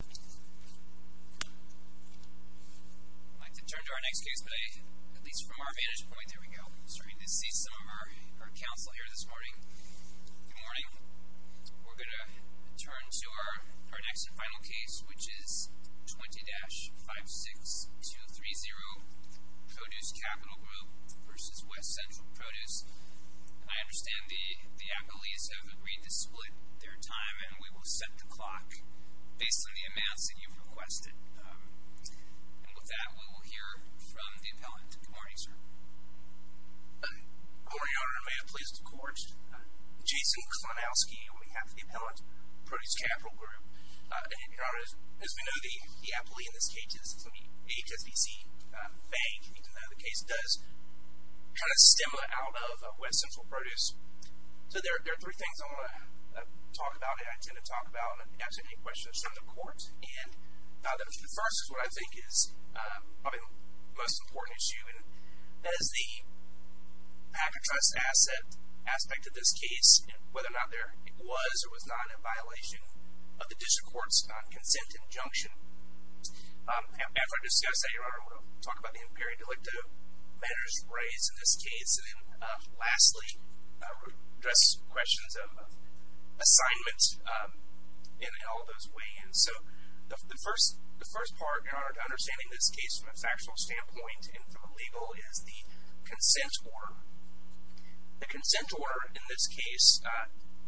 I'd like to turn to our next case today, at least from our vantage point. There we go. Starting to see some of our counsel here this morning. Good morning. We're going to turn to our next and final case, which is 20-56230, Produce Capital Group v. West Central Produce. I understand the accolades have agreed to split their time, and we will set the clock. Based on the amounts that you've requested. And with that, we will hear from the appellant. Good morning, sir. Good morning, Your Honor. May it please the Court. Jason Klonowski on behalf of the appellant, Produce Capital Group. Your Honor, as we know, the appellee in this case is from the HSBC bank. We do know the case does kind of stem out of West Central Produce. So there are three things I want to talk about that I intend to talk about and answer any questions from the Court. And the first is what I think is probably the most important issue. And that is the patent trust asset aspect of this case, and whether or not there was or was not a violation of the district court's consent injunction. After I discuss that, Your Honor, I want to talk about the imperial delicto matters raised in this case. And then lastly, address questions of assignment and all those ways. So the first part, Your Honor, to understanding this case from a factual standpoint and from a legal is the consent order. The consent order in this case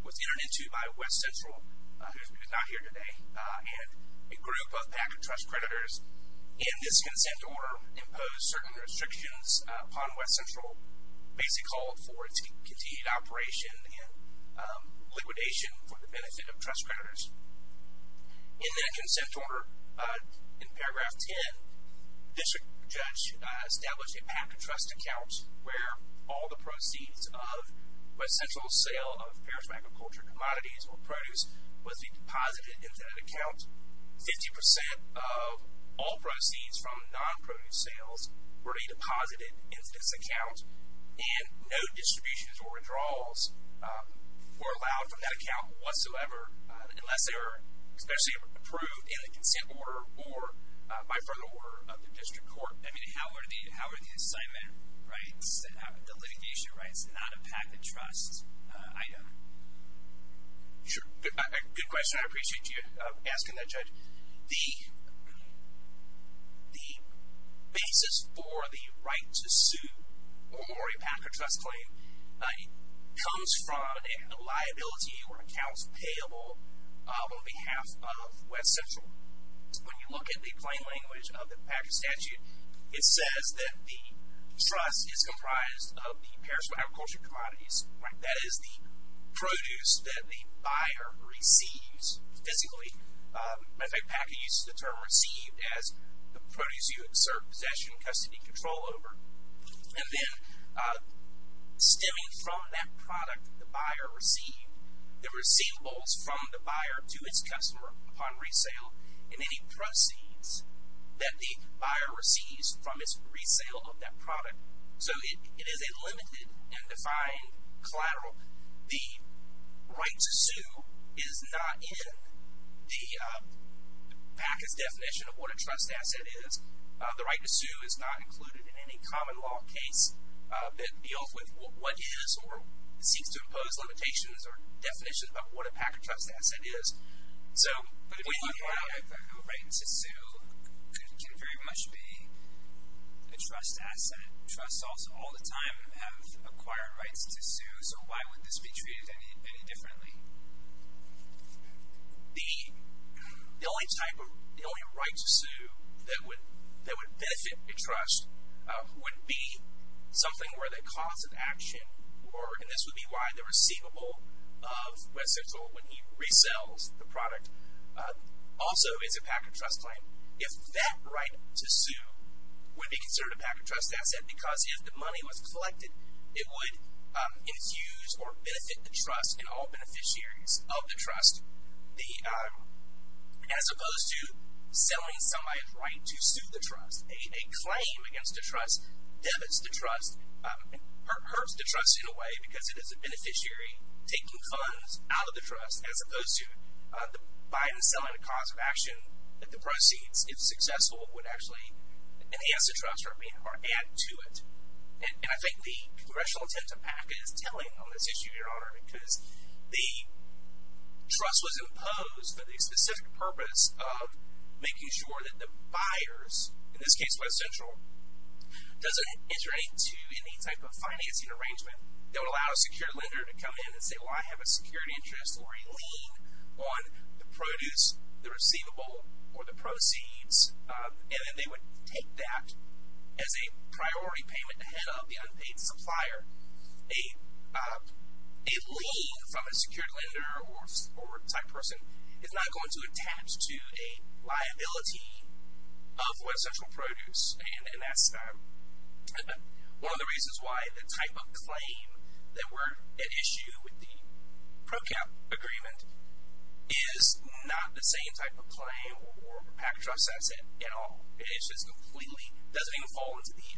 was entered into by West Central, who is not here today, and a group of patent trust creditors in this consent order imposed certain restrictions upon West Central. Basically called for its continued operation and liquidation for the benefit of trust creditors. In that consent order, in paragraph 10, district judge established a patent trust account where all the proceeds of West Central's sale of 50% of all proceeds from non-produce sales were already deposited into this account, and no distributions or withdrawals were allowed from that account whatsoever, unless they were especially approved in the consent order or by further order of the district court. I mean, how are the assignment rights, the litigation rights, not a patent trust item? Sure. Good question. I appreciate you asking that, Judge. The basis for the right to sue or a patent trust claim comes from a liability or accounts payable on behalf of West Central. When you look at the plain language of the patent statute, it says that the trust is comprised of the perishable agricultural commodities. That is the produce that the buyer receives physically. In fact, Packer uses the term received as the produce you exert possession and custody control over. And then stemming from that product, the buyer received, the receivables from the buyer to its customer upon resale, and any proceeds that the buyer receives from its resale of that product. So it is a limited and defined collateral. The right to sue is not in the Packer's definition of what a trust asset is. The right to sue is not included in any common law case that deals with what is or seeks to impose limitations or definition of what a Packer trust asset is. But if you have a right to sue, it can very much be a trust asset. Trusts all the time have acquired rights to sue, so why would this be treated any differently? The only right to sue that would benefit a trust would be something where the cause of action were, and this would be why the receivable of West Central, when he resells the product, also is a Packer trust claim. If that right to sue would be considered a Packer trust asset because if the money was collected, it would infuse or benefit the trust and all beneficiaries of the trust, as opposed to selling somebody's right to sue the trust. A claim against a trust debits the trust, hurts the trust in a way, because it is a beneficiary taking funds out of the trust, as opposed to the buyer selling the cause of action that the proceeds, if successful, would actually enhance the trust or add to it. And I think the congressional attempt to pack is telling on this issue, Your Honor, because the trust was imposed for the specific purpose of making sure that the buyers, in this case West Central, doesn't iterate to any type of financing arrangement that would allow a secured lender to come in and say, well, I have a secured interest or a lien on the produce, the receivable, or the proceeds, and then they would take that as a priority payment to head up the unpaid supplier. A lien from a secured lender or type person is not going to attach to a liability of West Central Produce, and that's one of the reasons why the type of claim that were at issue with the PROCAP agreement is not the same type of claim or Packet Trust asset at all. It is just completely, doesn't even fall into the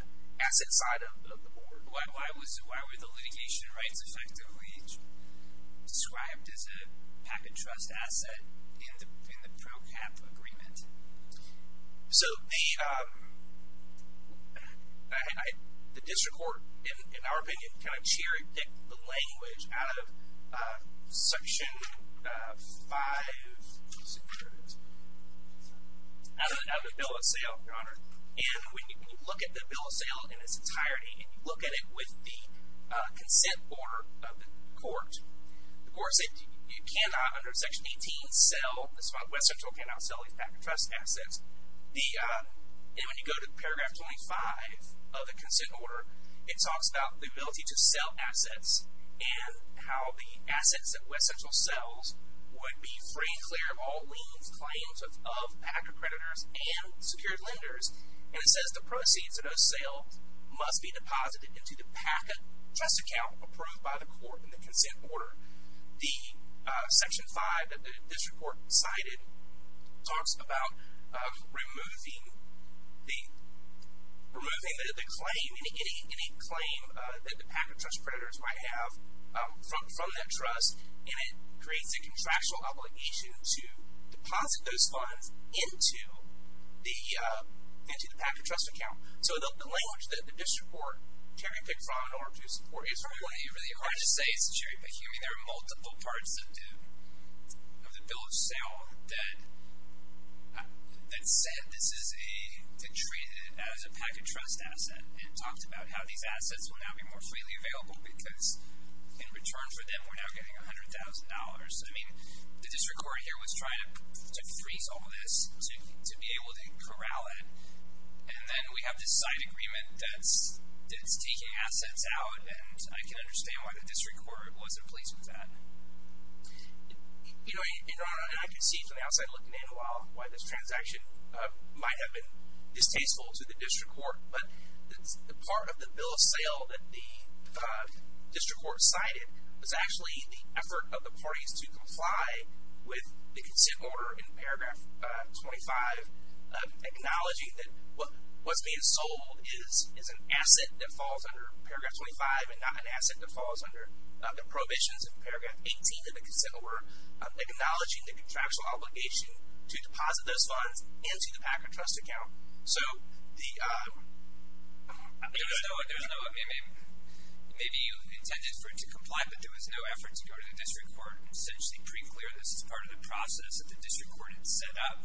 asset side of the board. Why were the litigation rights effectively described as a Packet Trust asset in the PROCAP agreement? So the district court, in our opinion, kind of cherry-picked the language out of Section 500, out of the Bill of Sale, Your Honor. And when you look at the Bill of Sale in its entirety and you look at it with the consent order of the court, the court said you cannot, under Section 18, sell, West Central cannot sell these Packet Trust assets. And when you go to paragraph 25 of the consent order, it talks about the ability to sell assets and how the assets that West Central sells would be free and clear of all liens, claims of Packet creditors, and secured lenders. And it says the proceeds of those sales must be deposited into the Packet Trust account approved by the court in the consent order. The Section 5 that the district court cited talks about removing the claim, any claim that the Packet Trust creditors might have from that trust, and it creates a contractual obligation to deposit those funds into the Packet Trust account. So the language that the district court cherry-picked from in order to support It's really hard to say it's a cherry-picking. I mean, there are multiple parts of the Bill of Sale that said this is a, to treat it as a Packet Trust asset and talked about how these assets will now be more freely available because in return for them, we're now getting $100,000. I mean, the district court here was trying to freeze all this to be able to corral it. And then we have this side agreement that's taking assets out, and I can understand why the district court wasn't pleased with that. You know, and I can see from the outside looking in a while why this transaction might have been distasteful to the district court, but the part of the Bill of Sale that the district court cited was actually the effort of the parties to comply with the consent order in Paragraph 25, acknowledging that what's being sold is an asset that falls under Paragraph 25 and not an asset that falls under the prohibitions of Paragraph 18 of the consent order, acknowledging the contractual obligation to deposit those funds into the Packet Trust account. So there's no, maybe you intended for it to comply, but there was no effort to go through this as part of the process that the district court had set up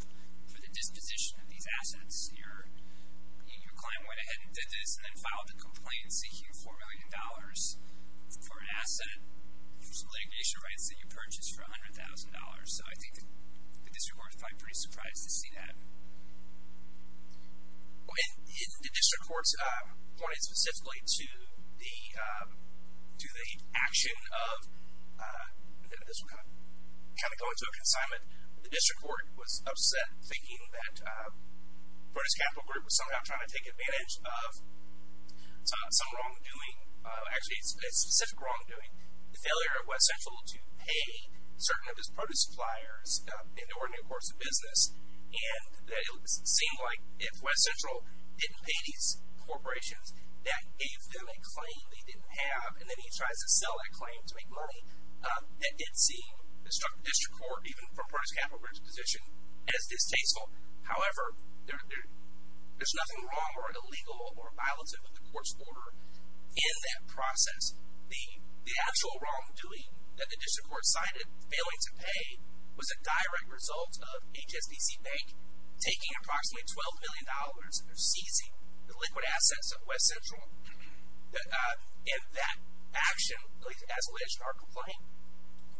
for the disposition of these assets. Your client went ahead and did this and then filed a complaint seeking $4 million for an asset for some litigation rights that you purchased for $100,000. So I think the district court was probably pretty surprised to see that. In the district court's point specifically to the action of, and this will kind of go into a consignment, the district court was upset thinking that Produce Capital Group was somehow trying to take advantage of some wrongdoing, actually a specific wrongdoing, the failure of West Central to pay certain of its produce suppliers in order to make money. It seemed like if West Central didn't pay these corporations, that gave them a claim they didn't have, and then he tries to sell that claim to make money. That did seem, it struck the district court, even from Produce Capital Group's position, as distasteful. However, there's nothing wrong or illegal or violative of the court's order in that process. The actual wrongdoing that the district court cited, failing to pay, was a direct result of HSBC Bank taking approximately $12 million and seizing the liquid assets of West Central. And that action, at least as alleged in our complaint,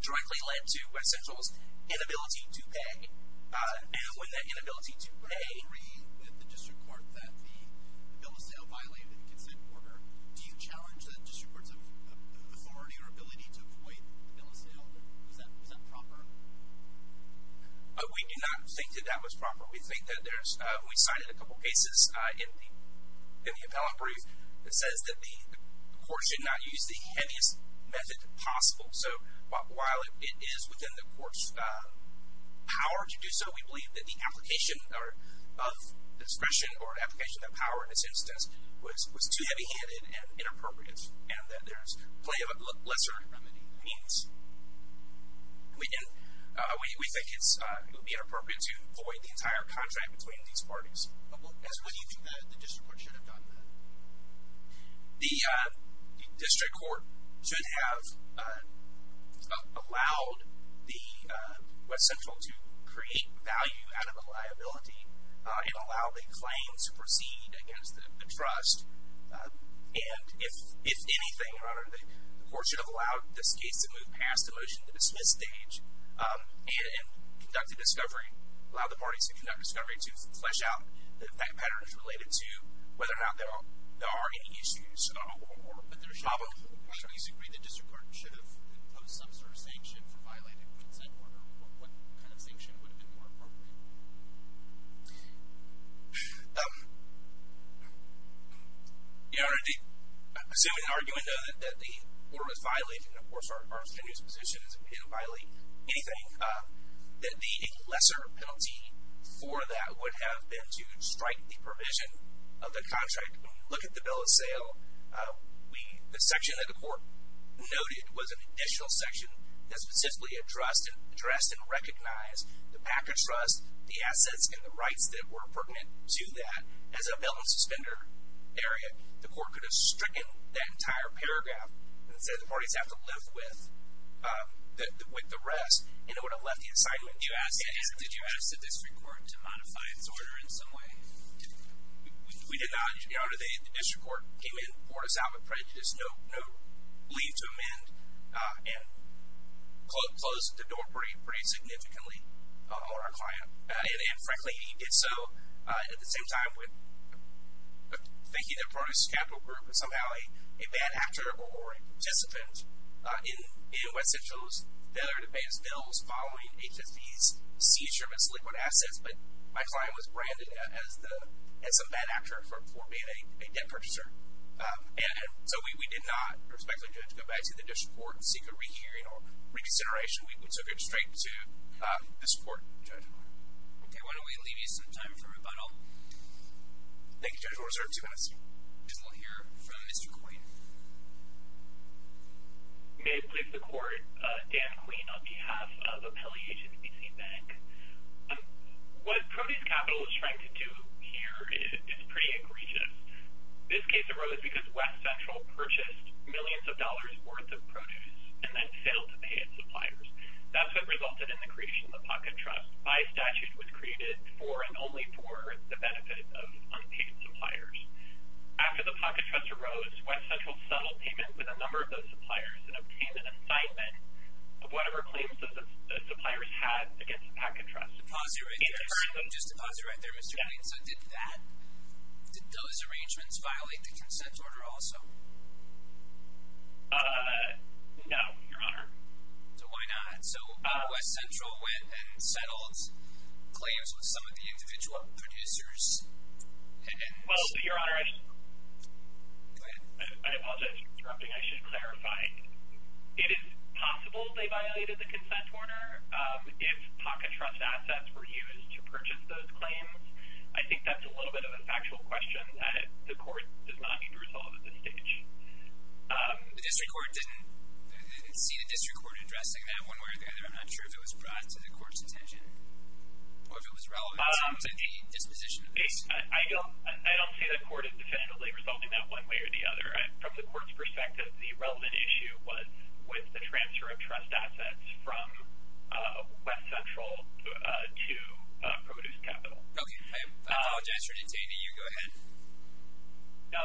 directly led to West Central's inability to pay. And with that inability to pay... I agree with the district court that the bill of sale violated the consent order. Do you challenge the district court's authority or ability to avoid the bill of sale? Is that proper? We do not think that that was proper. We think that there's... We cited a couple cases in the appellate brief that says that the court should not use the heaviest method possible. So while it is within the court's power to do so, we believe that the application of discretion or application of power, in this instance, was too heavy-handed and inappropriate, and that there's plenty of lesser remedy means. We think it would be inappropriate to void the entire contract between these parties. As would you think that the district court should have done that? The district court should have allowed West Central to create value out of the liability and allow the claim to proceed against the trust. And if anything, Your Honor, the court should have allowed this case to move past the motion to dismiss stage and conduct a discovery, allow the parties to conduct a discovery, to flesh out the effect patterns related to whether or not there are any issues. But there should be some sort of sanction for violating the consent order. What kind of sanction would have been more appropriate? Your Honor, assuming and arguing, though, that the order was violated, and, of course, our opinion as a position is that we didn't violate anything, that a lesser penalty for that would have been to strike the provision of the contract. When you look at the bill of sale, the section that the court noted was an additional section that specifically addressed and recognized the package trust, the assets, and the rights that were pertinent to that. As a bail and suspender area, the court could have stricken that entire paragraph and said the parties have to live with the rest, and it would have left the assignment. Did you ask the district court to modify its order in some way? We did not, Your Honor. The district court came in, poured us out with prejudice, no leave to amend, and closed the door pretty significantly on our client. And, frankly, he did so at the same time with thinking that part of his capital group was somehow a bad actor or a participant in West Central's failure to advance bills following HSE's seizure of its liquid assets, but my client was branded as a bad actor for being a debt purchaser. And so we did not, respectfully, Judge, go back to the district court and seek a rehearing or reconsideration. We will turn it straight to this court, Judge. Okay, why don't we leave you some time for rebuttal? Thank you, Judge. We'll reserve two minutes. We'll hear from Mr. Queen. May it please the court. Dan Queen on behalf of Appellee Agency Bank. What Produce Capital is trying to do here is pretty egregious. This case arose because West Central purchased millions of dollars' worth of produce and then failed to pay its suppliers. That's what resulted in the creation of the pocket trust. By statute, it was created for and only for the benefit of unpaid suppliers. After the pocket trust arose, West Central settled payments with a number of those suppliers and obtained an assignment of whatever claims the suppliers had against the pocket trust. Just to pause you right there, Mr. Queen, so did those arrangements violate the consent order also? No, Your Honor. So why not? So West Central went and settled claims with some of the individual producers. Well, Your Honor, I apologize for interrupting. I should clarify. It is possible they violated the consent order if pocket trust assets were used to purchase those claims. I think that's a little bit of a factual question that the court does not need to resolve at this stage. The district court didn't see the district court addressing that one way or the other. I'm not sure if it was brought to the court's attention or if it was relevant to the disposition of the case. I don't see the court as definitively resolving that one way or the other. From the court's perspective, the relevant issue was with the transfer of trust assets from West Central to Produce Capital. Okay. I apologize for the detainee. You go ahead.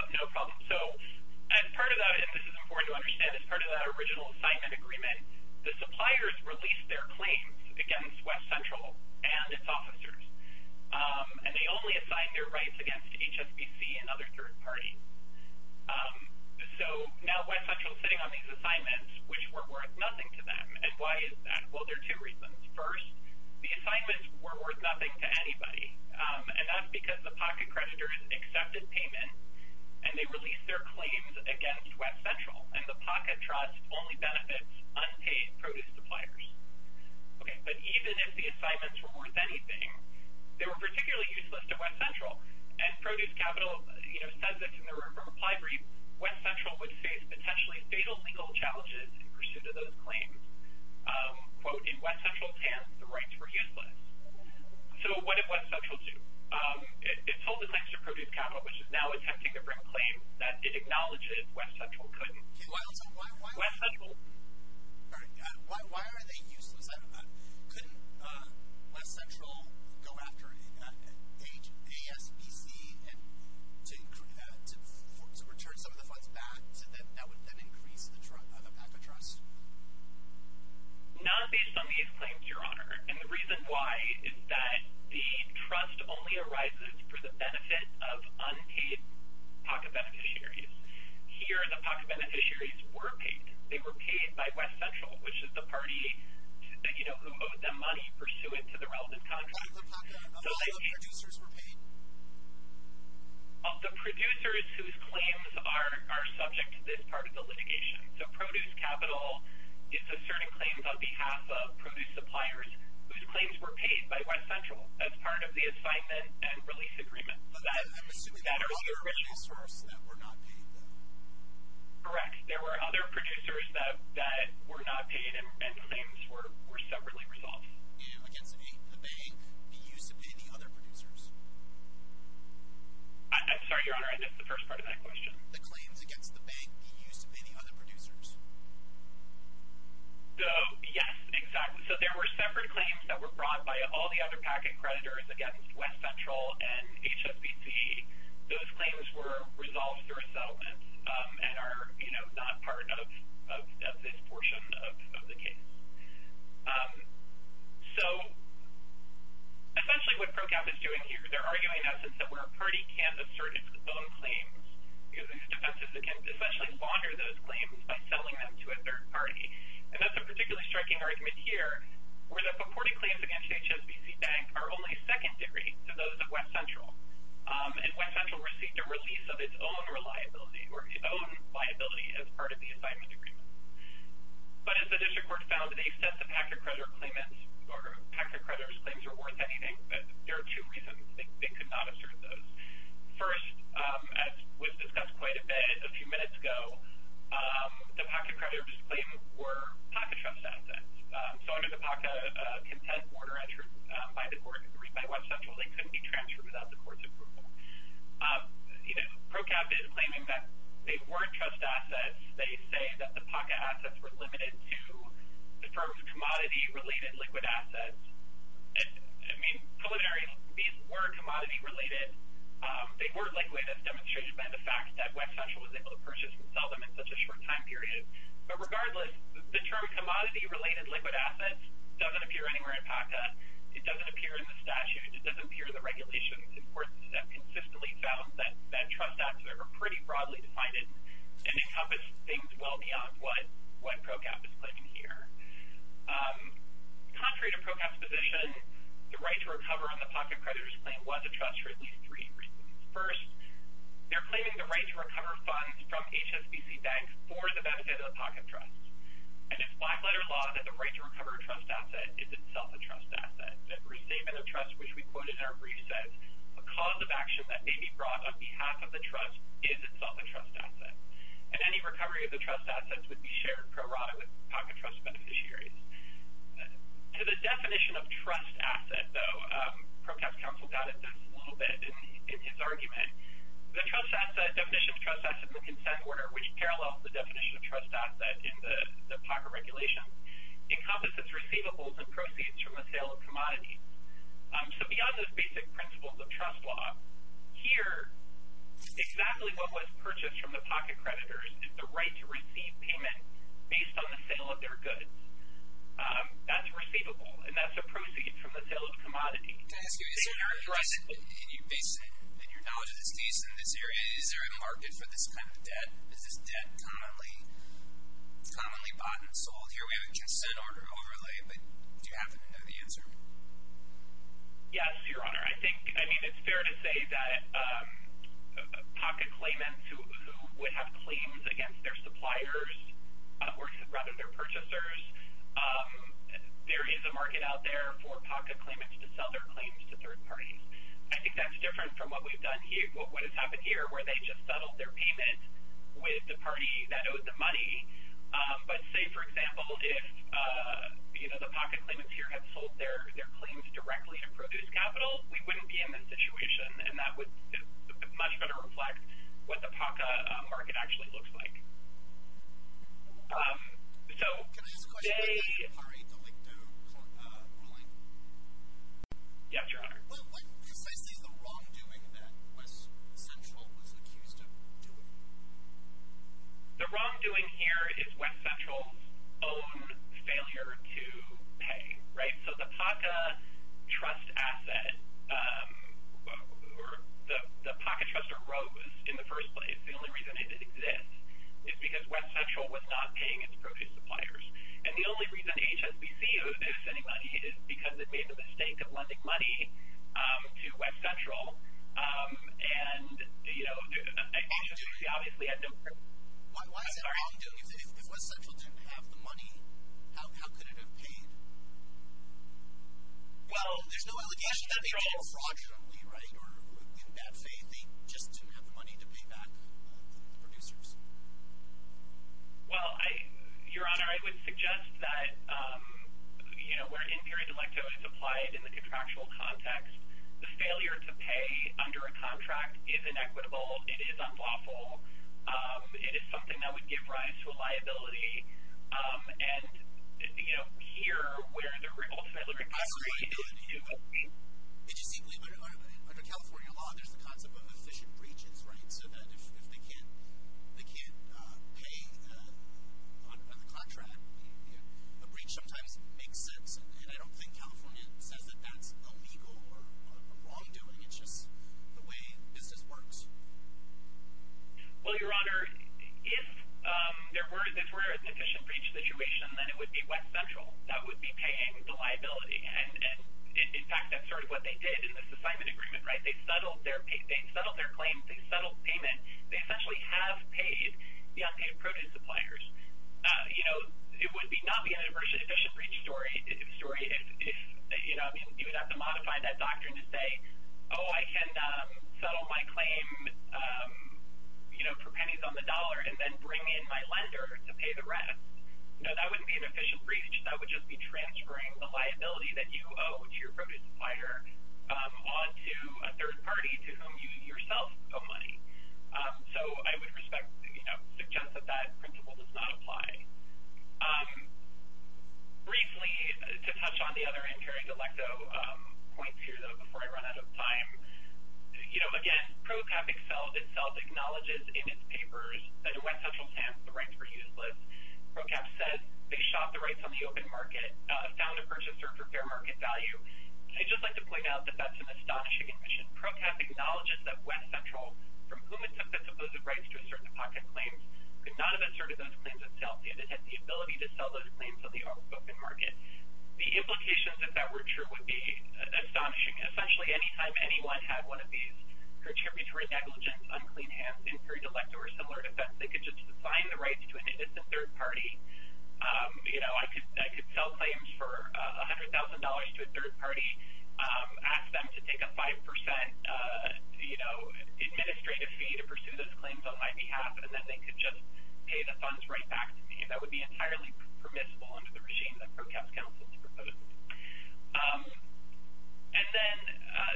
No problem. So as part of that, and this is important to understand, as part of that original assignment agreement, the suppliers released their claims against West Central and its officers, and they only assigned their rights against HSBC and other third parties. So now West Central is sitting on these assignments, which were worth nothing to them. And why is that? Well, there are two reasons. First, the assignments were worth nothing to anybody, and that's because the pocket creditors accepted payment and they released their claims against West Central, and the pocket trust only benefits unpaid produce suppliers. Okay. But even if the assignments were worth anything, they were particularly useless to West Central. And Produce Capital, you know, says this in their reply brief, West Central would face potentially fatal legal challenges in pursuit of those claims. Quote, in West Central's hands, the rights were useless. So what did West Central do? It sold the claims to Produce Capital, which is now attempting to bring claims that it acknowledges West Central couldn't. Okay. Why are they useless? Couldn't West Central go after HSBC to return some of the funds back that would then increase the PACA trust? Not based on these claims, Your Honor. And the reason why is that the trust only arises for the benefit of unpaid pocket beneficiaries. Here, the pocket beneficiaries were paid. They were paid by West Central, which is the party, you know, who owed them money pursuant to the relevant contract. What about the producers who were paid? Well, the producers whose claims are subject to this part of the litigation. So Produce Capital is asserting claims on behalf of produce suppliers whose claims were paid by West Central as part of the assignment and release agreement. I'm assuming there were other producers that were not paid then. Correct. There were other producers that were not paid, and claims were separately resolved. The bank used to pay the other producers. I'm sorry, Your Honor. I missed the first part of that question. The claims against the bank used to pay the other producers. So, yes, exactly. So there were separate claims that were brought by all the other packet creditors against West Central and HSBC. Those claims were resolved through a settlement and are, you know, not part of this portion of the case. So essentially what PROCAP is doing here, they're arguing in essence that where a party can't assert its own claims, defenses can essentially wander those claims by selling them to a third party. And that's a particularly striking argument here, where the purported claims against HSBC Bank are only second-degree to those of West Central. And West Central received a release of its own liability as part of the assignment agreement. But as the district court found, they said the packet creditor's claims were worth anything, but there are two reasons they could not assert those. First, as was discussed quite a bit a few minutes ago, the packet creditor's claims were PACA trust assets. So under the PACA content order entered by the court, read by West Central, they couldn't be transferred without the court's approval. You know, PROCAP is claiming that they weren't trust assets. They say that the PACA assets were limited to the terms of commodity-related liquid assets. I mean, preliminary, these were commodity-related. They weren't like the way that's demonstrated by the fact that West Central was able to purchase and sell them in such a short time period. But regardless, the term commodity-related liquid assets doesn't appear anywhere in PACA. It doesn't appear in the statute. It doesn't appear in the regulations. And courts have consistently found that trust assets are pretty broadly defined and encompass things well beyond what PROCAP is claiming here. Contrary to PROCAP's position, the right to recover on the packet creditor's claim was a trust for at least three reasons. First, they're claiming the right to recover funds from HSBC banks for the benefit of the packet trust. And it's black-letter law that the right to recover a trust asset is itself a trust asset. That receiving a trust, which we quote in our brief, says a cause of action that may be brought on behalf of the trust is itself a trust asset. And any recovery of the trust assets would be shared pro rata with PACA trust beneficiaries. To the definition of trust asset, though, PROCAP's counsel doubted this a little bit in his argument. The definition of trust asset in the consent order, which parallels the definition of trust asset in the PACA regulation, encompasses receivables and proceeds from the sale of commodities. So beyond those basic principles of trust law, here, exactly what was purchased from the packet creditors is the right to receive payment based on the sale of their goods. That's receivable, and that's a proceed from the sale of commodities. Can I ask you a question? In your knowledge of the states in this area, is there a market for this kind of debt? Is this debt commonly bought and sold? Here we have a consent order overlay, but do you happen to know the answer? Yes, Your Honor. I mean, it's fair to say that PACA claimants who would have claims against their suppliers, or rather their purchasers, there is a market out there for PACA claimants to sell their claims to third parties. I think that's different from what we've done here, what has happened here, where they just settled their payment with the party that owed the money. But say, for example, if the PACA claimants here had sold their claims directly to produce capital, we wouldn't be in this situation, and that would much better reflect what the PACA market actually looks like. Can I ask a question? Is this an R.A. Delicto ruling? Yes, Your Honor. What precisely is the wrongdoing that West Central was accused of doing? The wrongdoing here is West Central's own failure to pay, right? So the PACA trust asset, the PACA trust arose in the first place. The only reason it exists is because West Central was not paying its produce suppliers. And the only reason HSBC is sending money is because it made the mistake of lending money to West Central. And, you know, obviously, I don't... If West Central didn't have the money, how could it have paid? Well, there's no allegation that they were all fraudulently, right? Or in bad faith, they just didn't have the money to pay back the producers. Well, Your Honor, I would suggest that, you know, where N. period delicto is applied in the contractual context, the failure to pay under a contract is inequitable. It is unlawful. It is something that would give rise to a liability. And, you know, here, where the revolts... Under California law, there's the concept of efficient breaches, right? So that if they can't pay on the contract, a breach sometimes makes sense. And I don't think California says that that's illegal or a wrongdoing. It's just the way business works. Well, Your Honor, if there were an efficient breach situation, then it would be West Central that would be paying the liability. And, in fact, that's sort of what they did in this assignment agreement, right? They settled their claims. They settled payment. They essentially have paid the unpaid produce suppliers. You know, it would not be an efficient breach story if, you know, you would have to modify that doctrine to say, oh, I can settle my claim, you know, for pennies on the dollar and then bring in my lender to pay the rest. No, that wouldn't be an efficient breach. That would just be transferring the liability that you owe to your produce supplier on to a third party to whom you yourself owe money. So I would respect, you know, suggest that that principle does not apply. Briefly, to touch on the other in-carrying delecto points here, though, before I run out of time, you know, again, PROCAP itself acknowledges in its papers that in West Central's hands, the rights were useless. PROCAP says they shot the rights on the open market, found a purchaser for fair market value. I'd just like to point out that that's an astonishing admission. PROCAP acknowledges that West Central, from whom it took the supposed rights to assert the pocket claims, could not have asserted those claims itself if it had the ability to sell those claims on the open market. The implications if that were true would be astonishing. Essentially, anytime anyone had one of these contributory negligence, unclean hands, in-carrying delecto, or similar effects, they could just sign the rights to an innocent third party. You know, I could sell claims for $100,000 to a third party, ask them to take a 5%, you know, administrative fee to pursue those claims on my behalf, and then they could just pay the funds right back to me. That would be entirely permissible under the regime that PROCAP's counsels proposed. And then,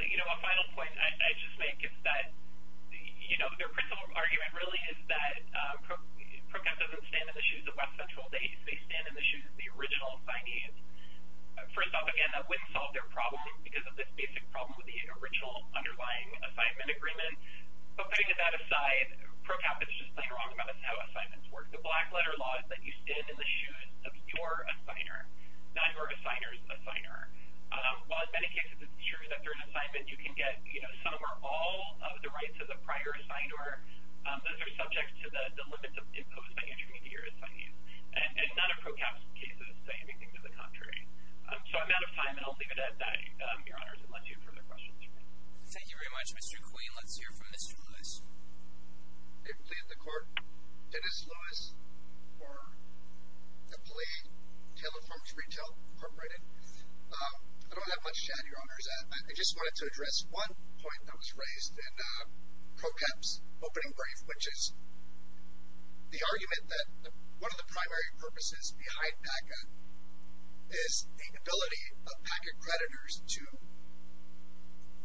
you know, a final point I just make is that, you know, their principal argument really is that PROCAP doesn't stand in the shoes of West Central. They stand in the shoes of the original signees. First off, again, that wouldn't solve their problem because of this basic problem with the original underlying assignment agreement. But putting that aside, PROCAP is just plain wrong about how assignments work. The black letter law is that you stand in the shoes of your assigner, not your assigner's assigner. While in many cases it's true that they're an assignment, you can get, you know, some or all of the rights those are subject to the limits imposed by your intermediary assignees. And none of PROCAP's cases say anything to the contrary. So I'm out of time and I'll leave it at that, Your Honors, unless you have further questions. Thank you very much. Mr. Queen, let's hear from Mr. Lewis. I plead the court, Dennis Lewis, for the plea, Taylor Farms Retail, Incorporated. I don't have much to add, Your Honors. I just wanted to address one point that was raised in PROCAP's opening brief, which is the argument that one of the primary purposes behind PACA is the ability of PACA creditors to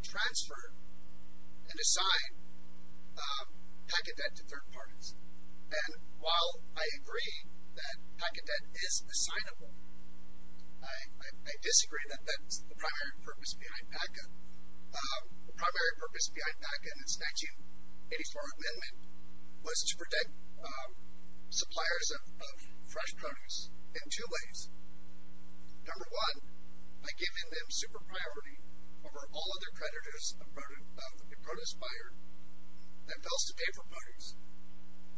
transfer and assign PACA debt to third parties. And while I agree that PACA debt is assignable, I disagree that that's the primary purpose behind PACA. The primary purpose behind PACA in its 1984 amendment was to protect suppliers of fresh produce in two ways. Number one, by giving them super priority over all other creditors of a produce buyer that fails to pay for produce.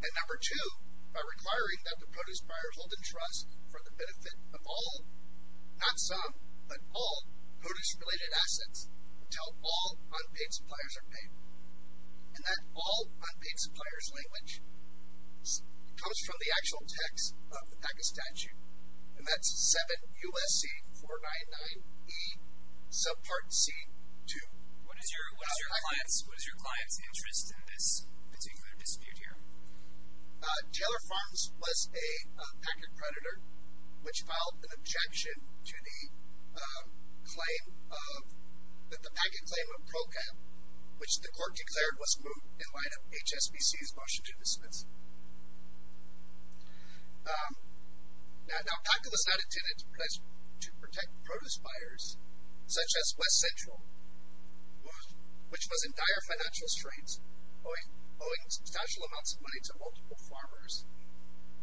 And number two, by requiring that the produce buyer hold in trust for the benefit of all, not some, but all produce-related assets until all unpaid suppliers are paid. And that all unpaid suppliers language comes from the actual text of the PACA statute. And that's 7 U.S.C. 499E subpart C 2. What is your client's interest in this particular dispute here? Taylor Farms was a PACA creditor which filed an objection to the claim of, the PACA claim of PROCAP which the court declared was moot in light of HSBC's motion to dismiss. Now PACA was not intended to protect produce buyers such as West Central which was in dire financial strains owing substantial amounts of money to multiple farmers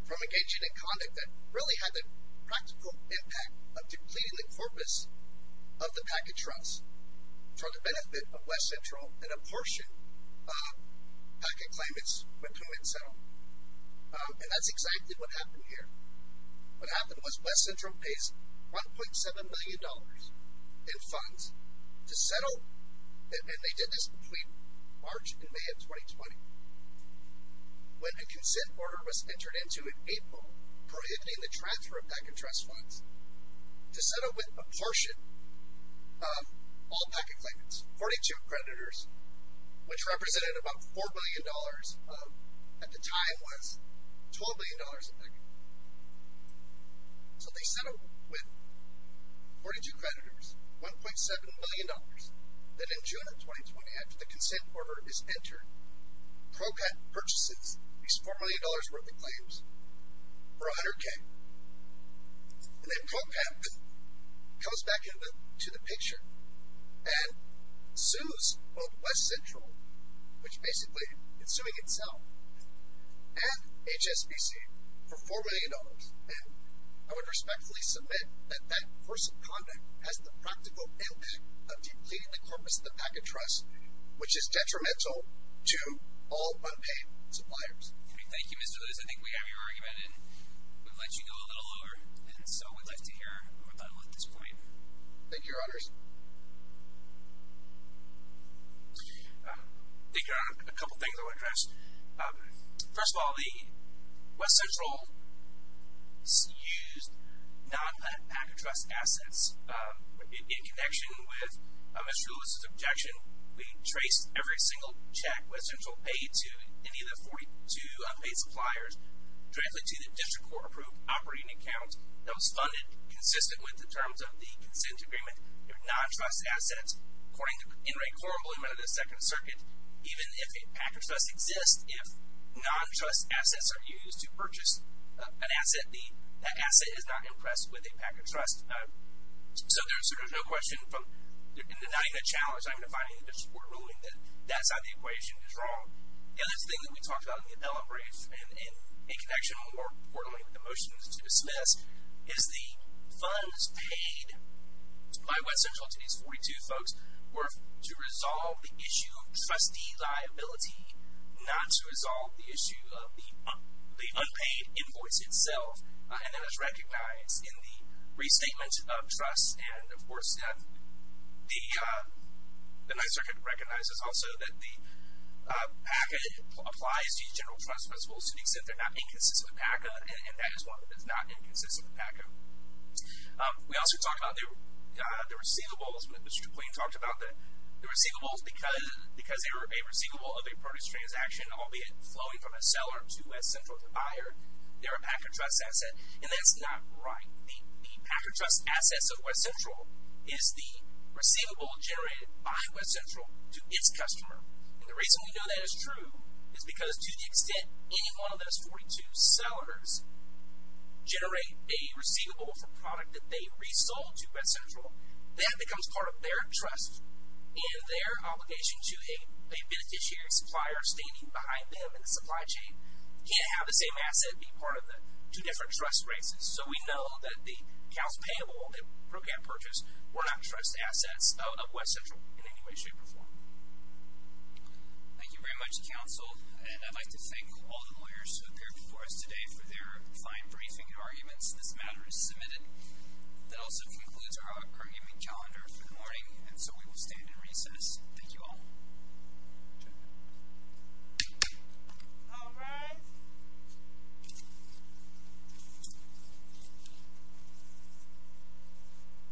from engaging in conduct that really had the practical impact of depleting the purpose of the PACA trust for the benefit of West Central and a portion of PACA claimants who were not for the PACA trust. That is exactly what happened here. West Central pays $1.7 million in funds to settle and they did this between March and May of 2020 when a consent order was entered into in April prohibiting the extortion of all PACA claimants. 42 creditors which represented about $4 billion at the time was $12 billion a decade. So they settled with 42 creditors $1.7 million that in June of 2020 after the consent order is entered PROPET purchases these $4 million claims for $100 K. And then PROPET comes back into the picture and sues both West Central which basically is suing itself and HSBC for $4 million. And I would respectfully submit that that force of conduct has the practical impact of depleting the corpus of the PACA trust which is detrimental to all unpaid suppliers. Thank you Mr. Lewis. I think we have your argument and we would like you to go a little lower. Thank you your honors. I think there are a couple of things I want to address. First of all the West Central used non PACA trust assets in connection with Mr. Lewis. The non PACA trust are used to purchase non PACA trust assets. That asset is not impressed with a PACA trust. So there is no question from denying the challenge I'm defining the district court ruling that that is not correct. The other thing we talked about in the motion to dismiss is the funds paid by West Central to these folks were to resolve the issue of trustee liability not to resolve the issue of the unpaid invoice itself. And that is recognized in the restatement of trust. And so PACA applies to the general trust principles to the extent they are not inconsistent with PACA. We also talked about the receivables because they are a receivable of a purchase transaction albeit flowing from a seller to a buyer. And that's not right. The PACA trust principle purchase transaction. And the reason we know that is true is because to the extent any one of those 42 sellers generate a receivable for a product that they resold to West Central that becomes part of their trust and their obligation to a beneficiary supplier standing behind them in the supply chain can't have the same asset being part of the two different trust races. So we know that the accounts payable were not trust assets of West Central in any way. And so we will stand in recess. Thank you all. Thank you. Thank you. Thank you.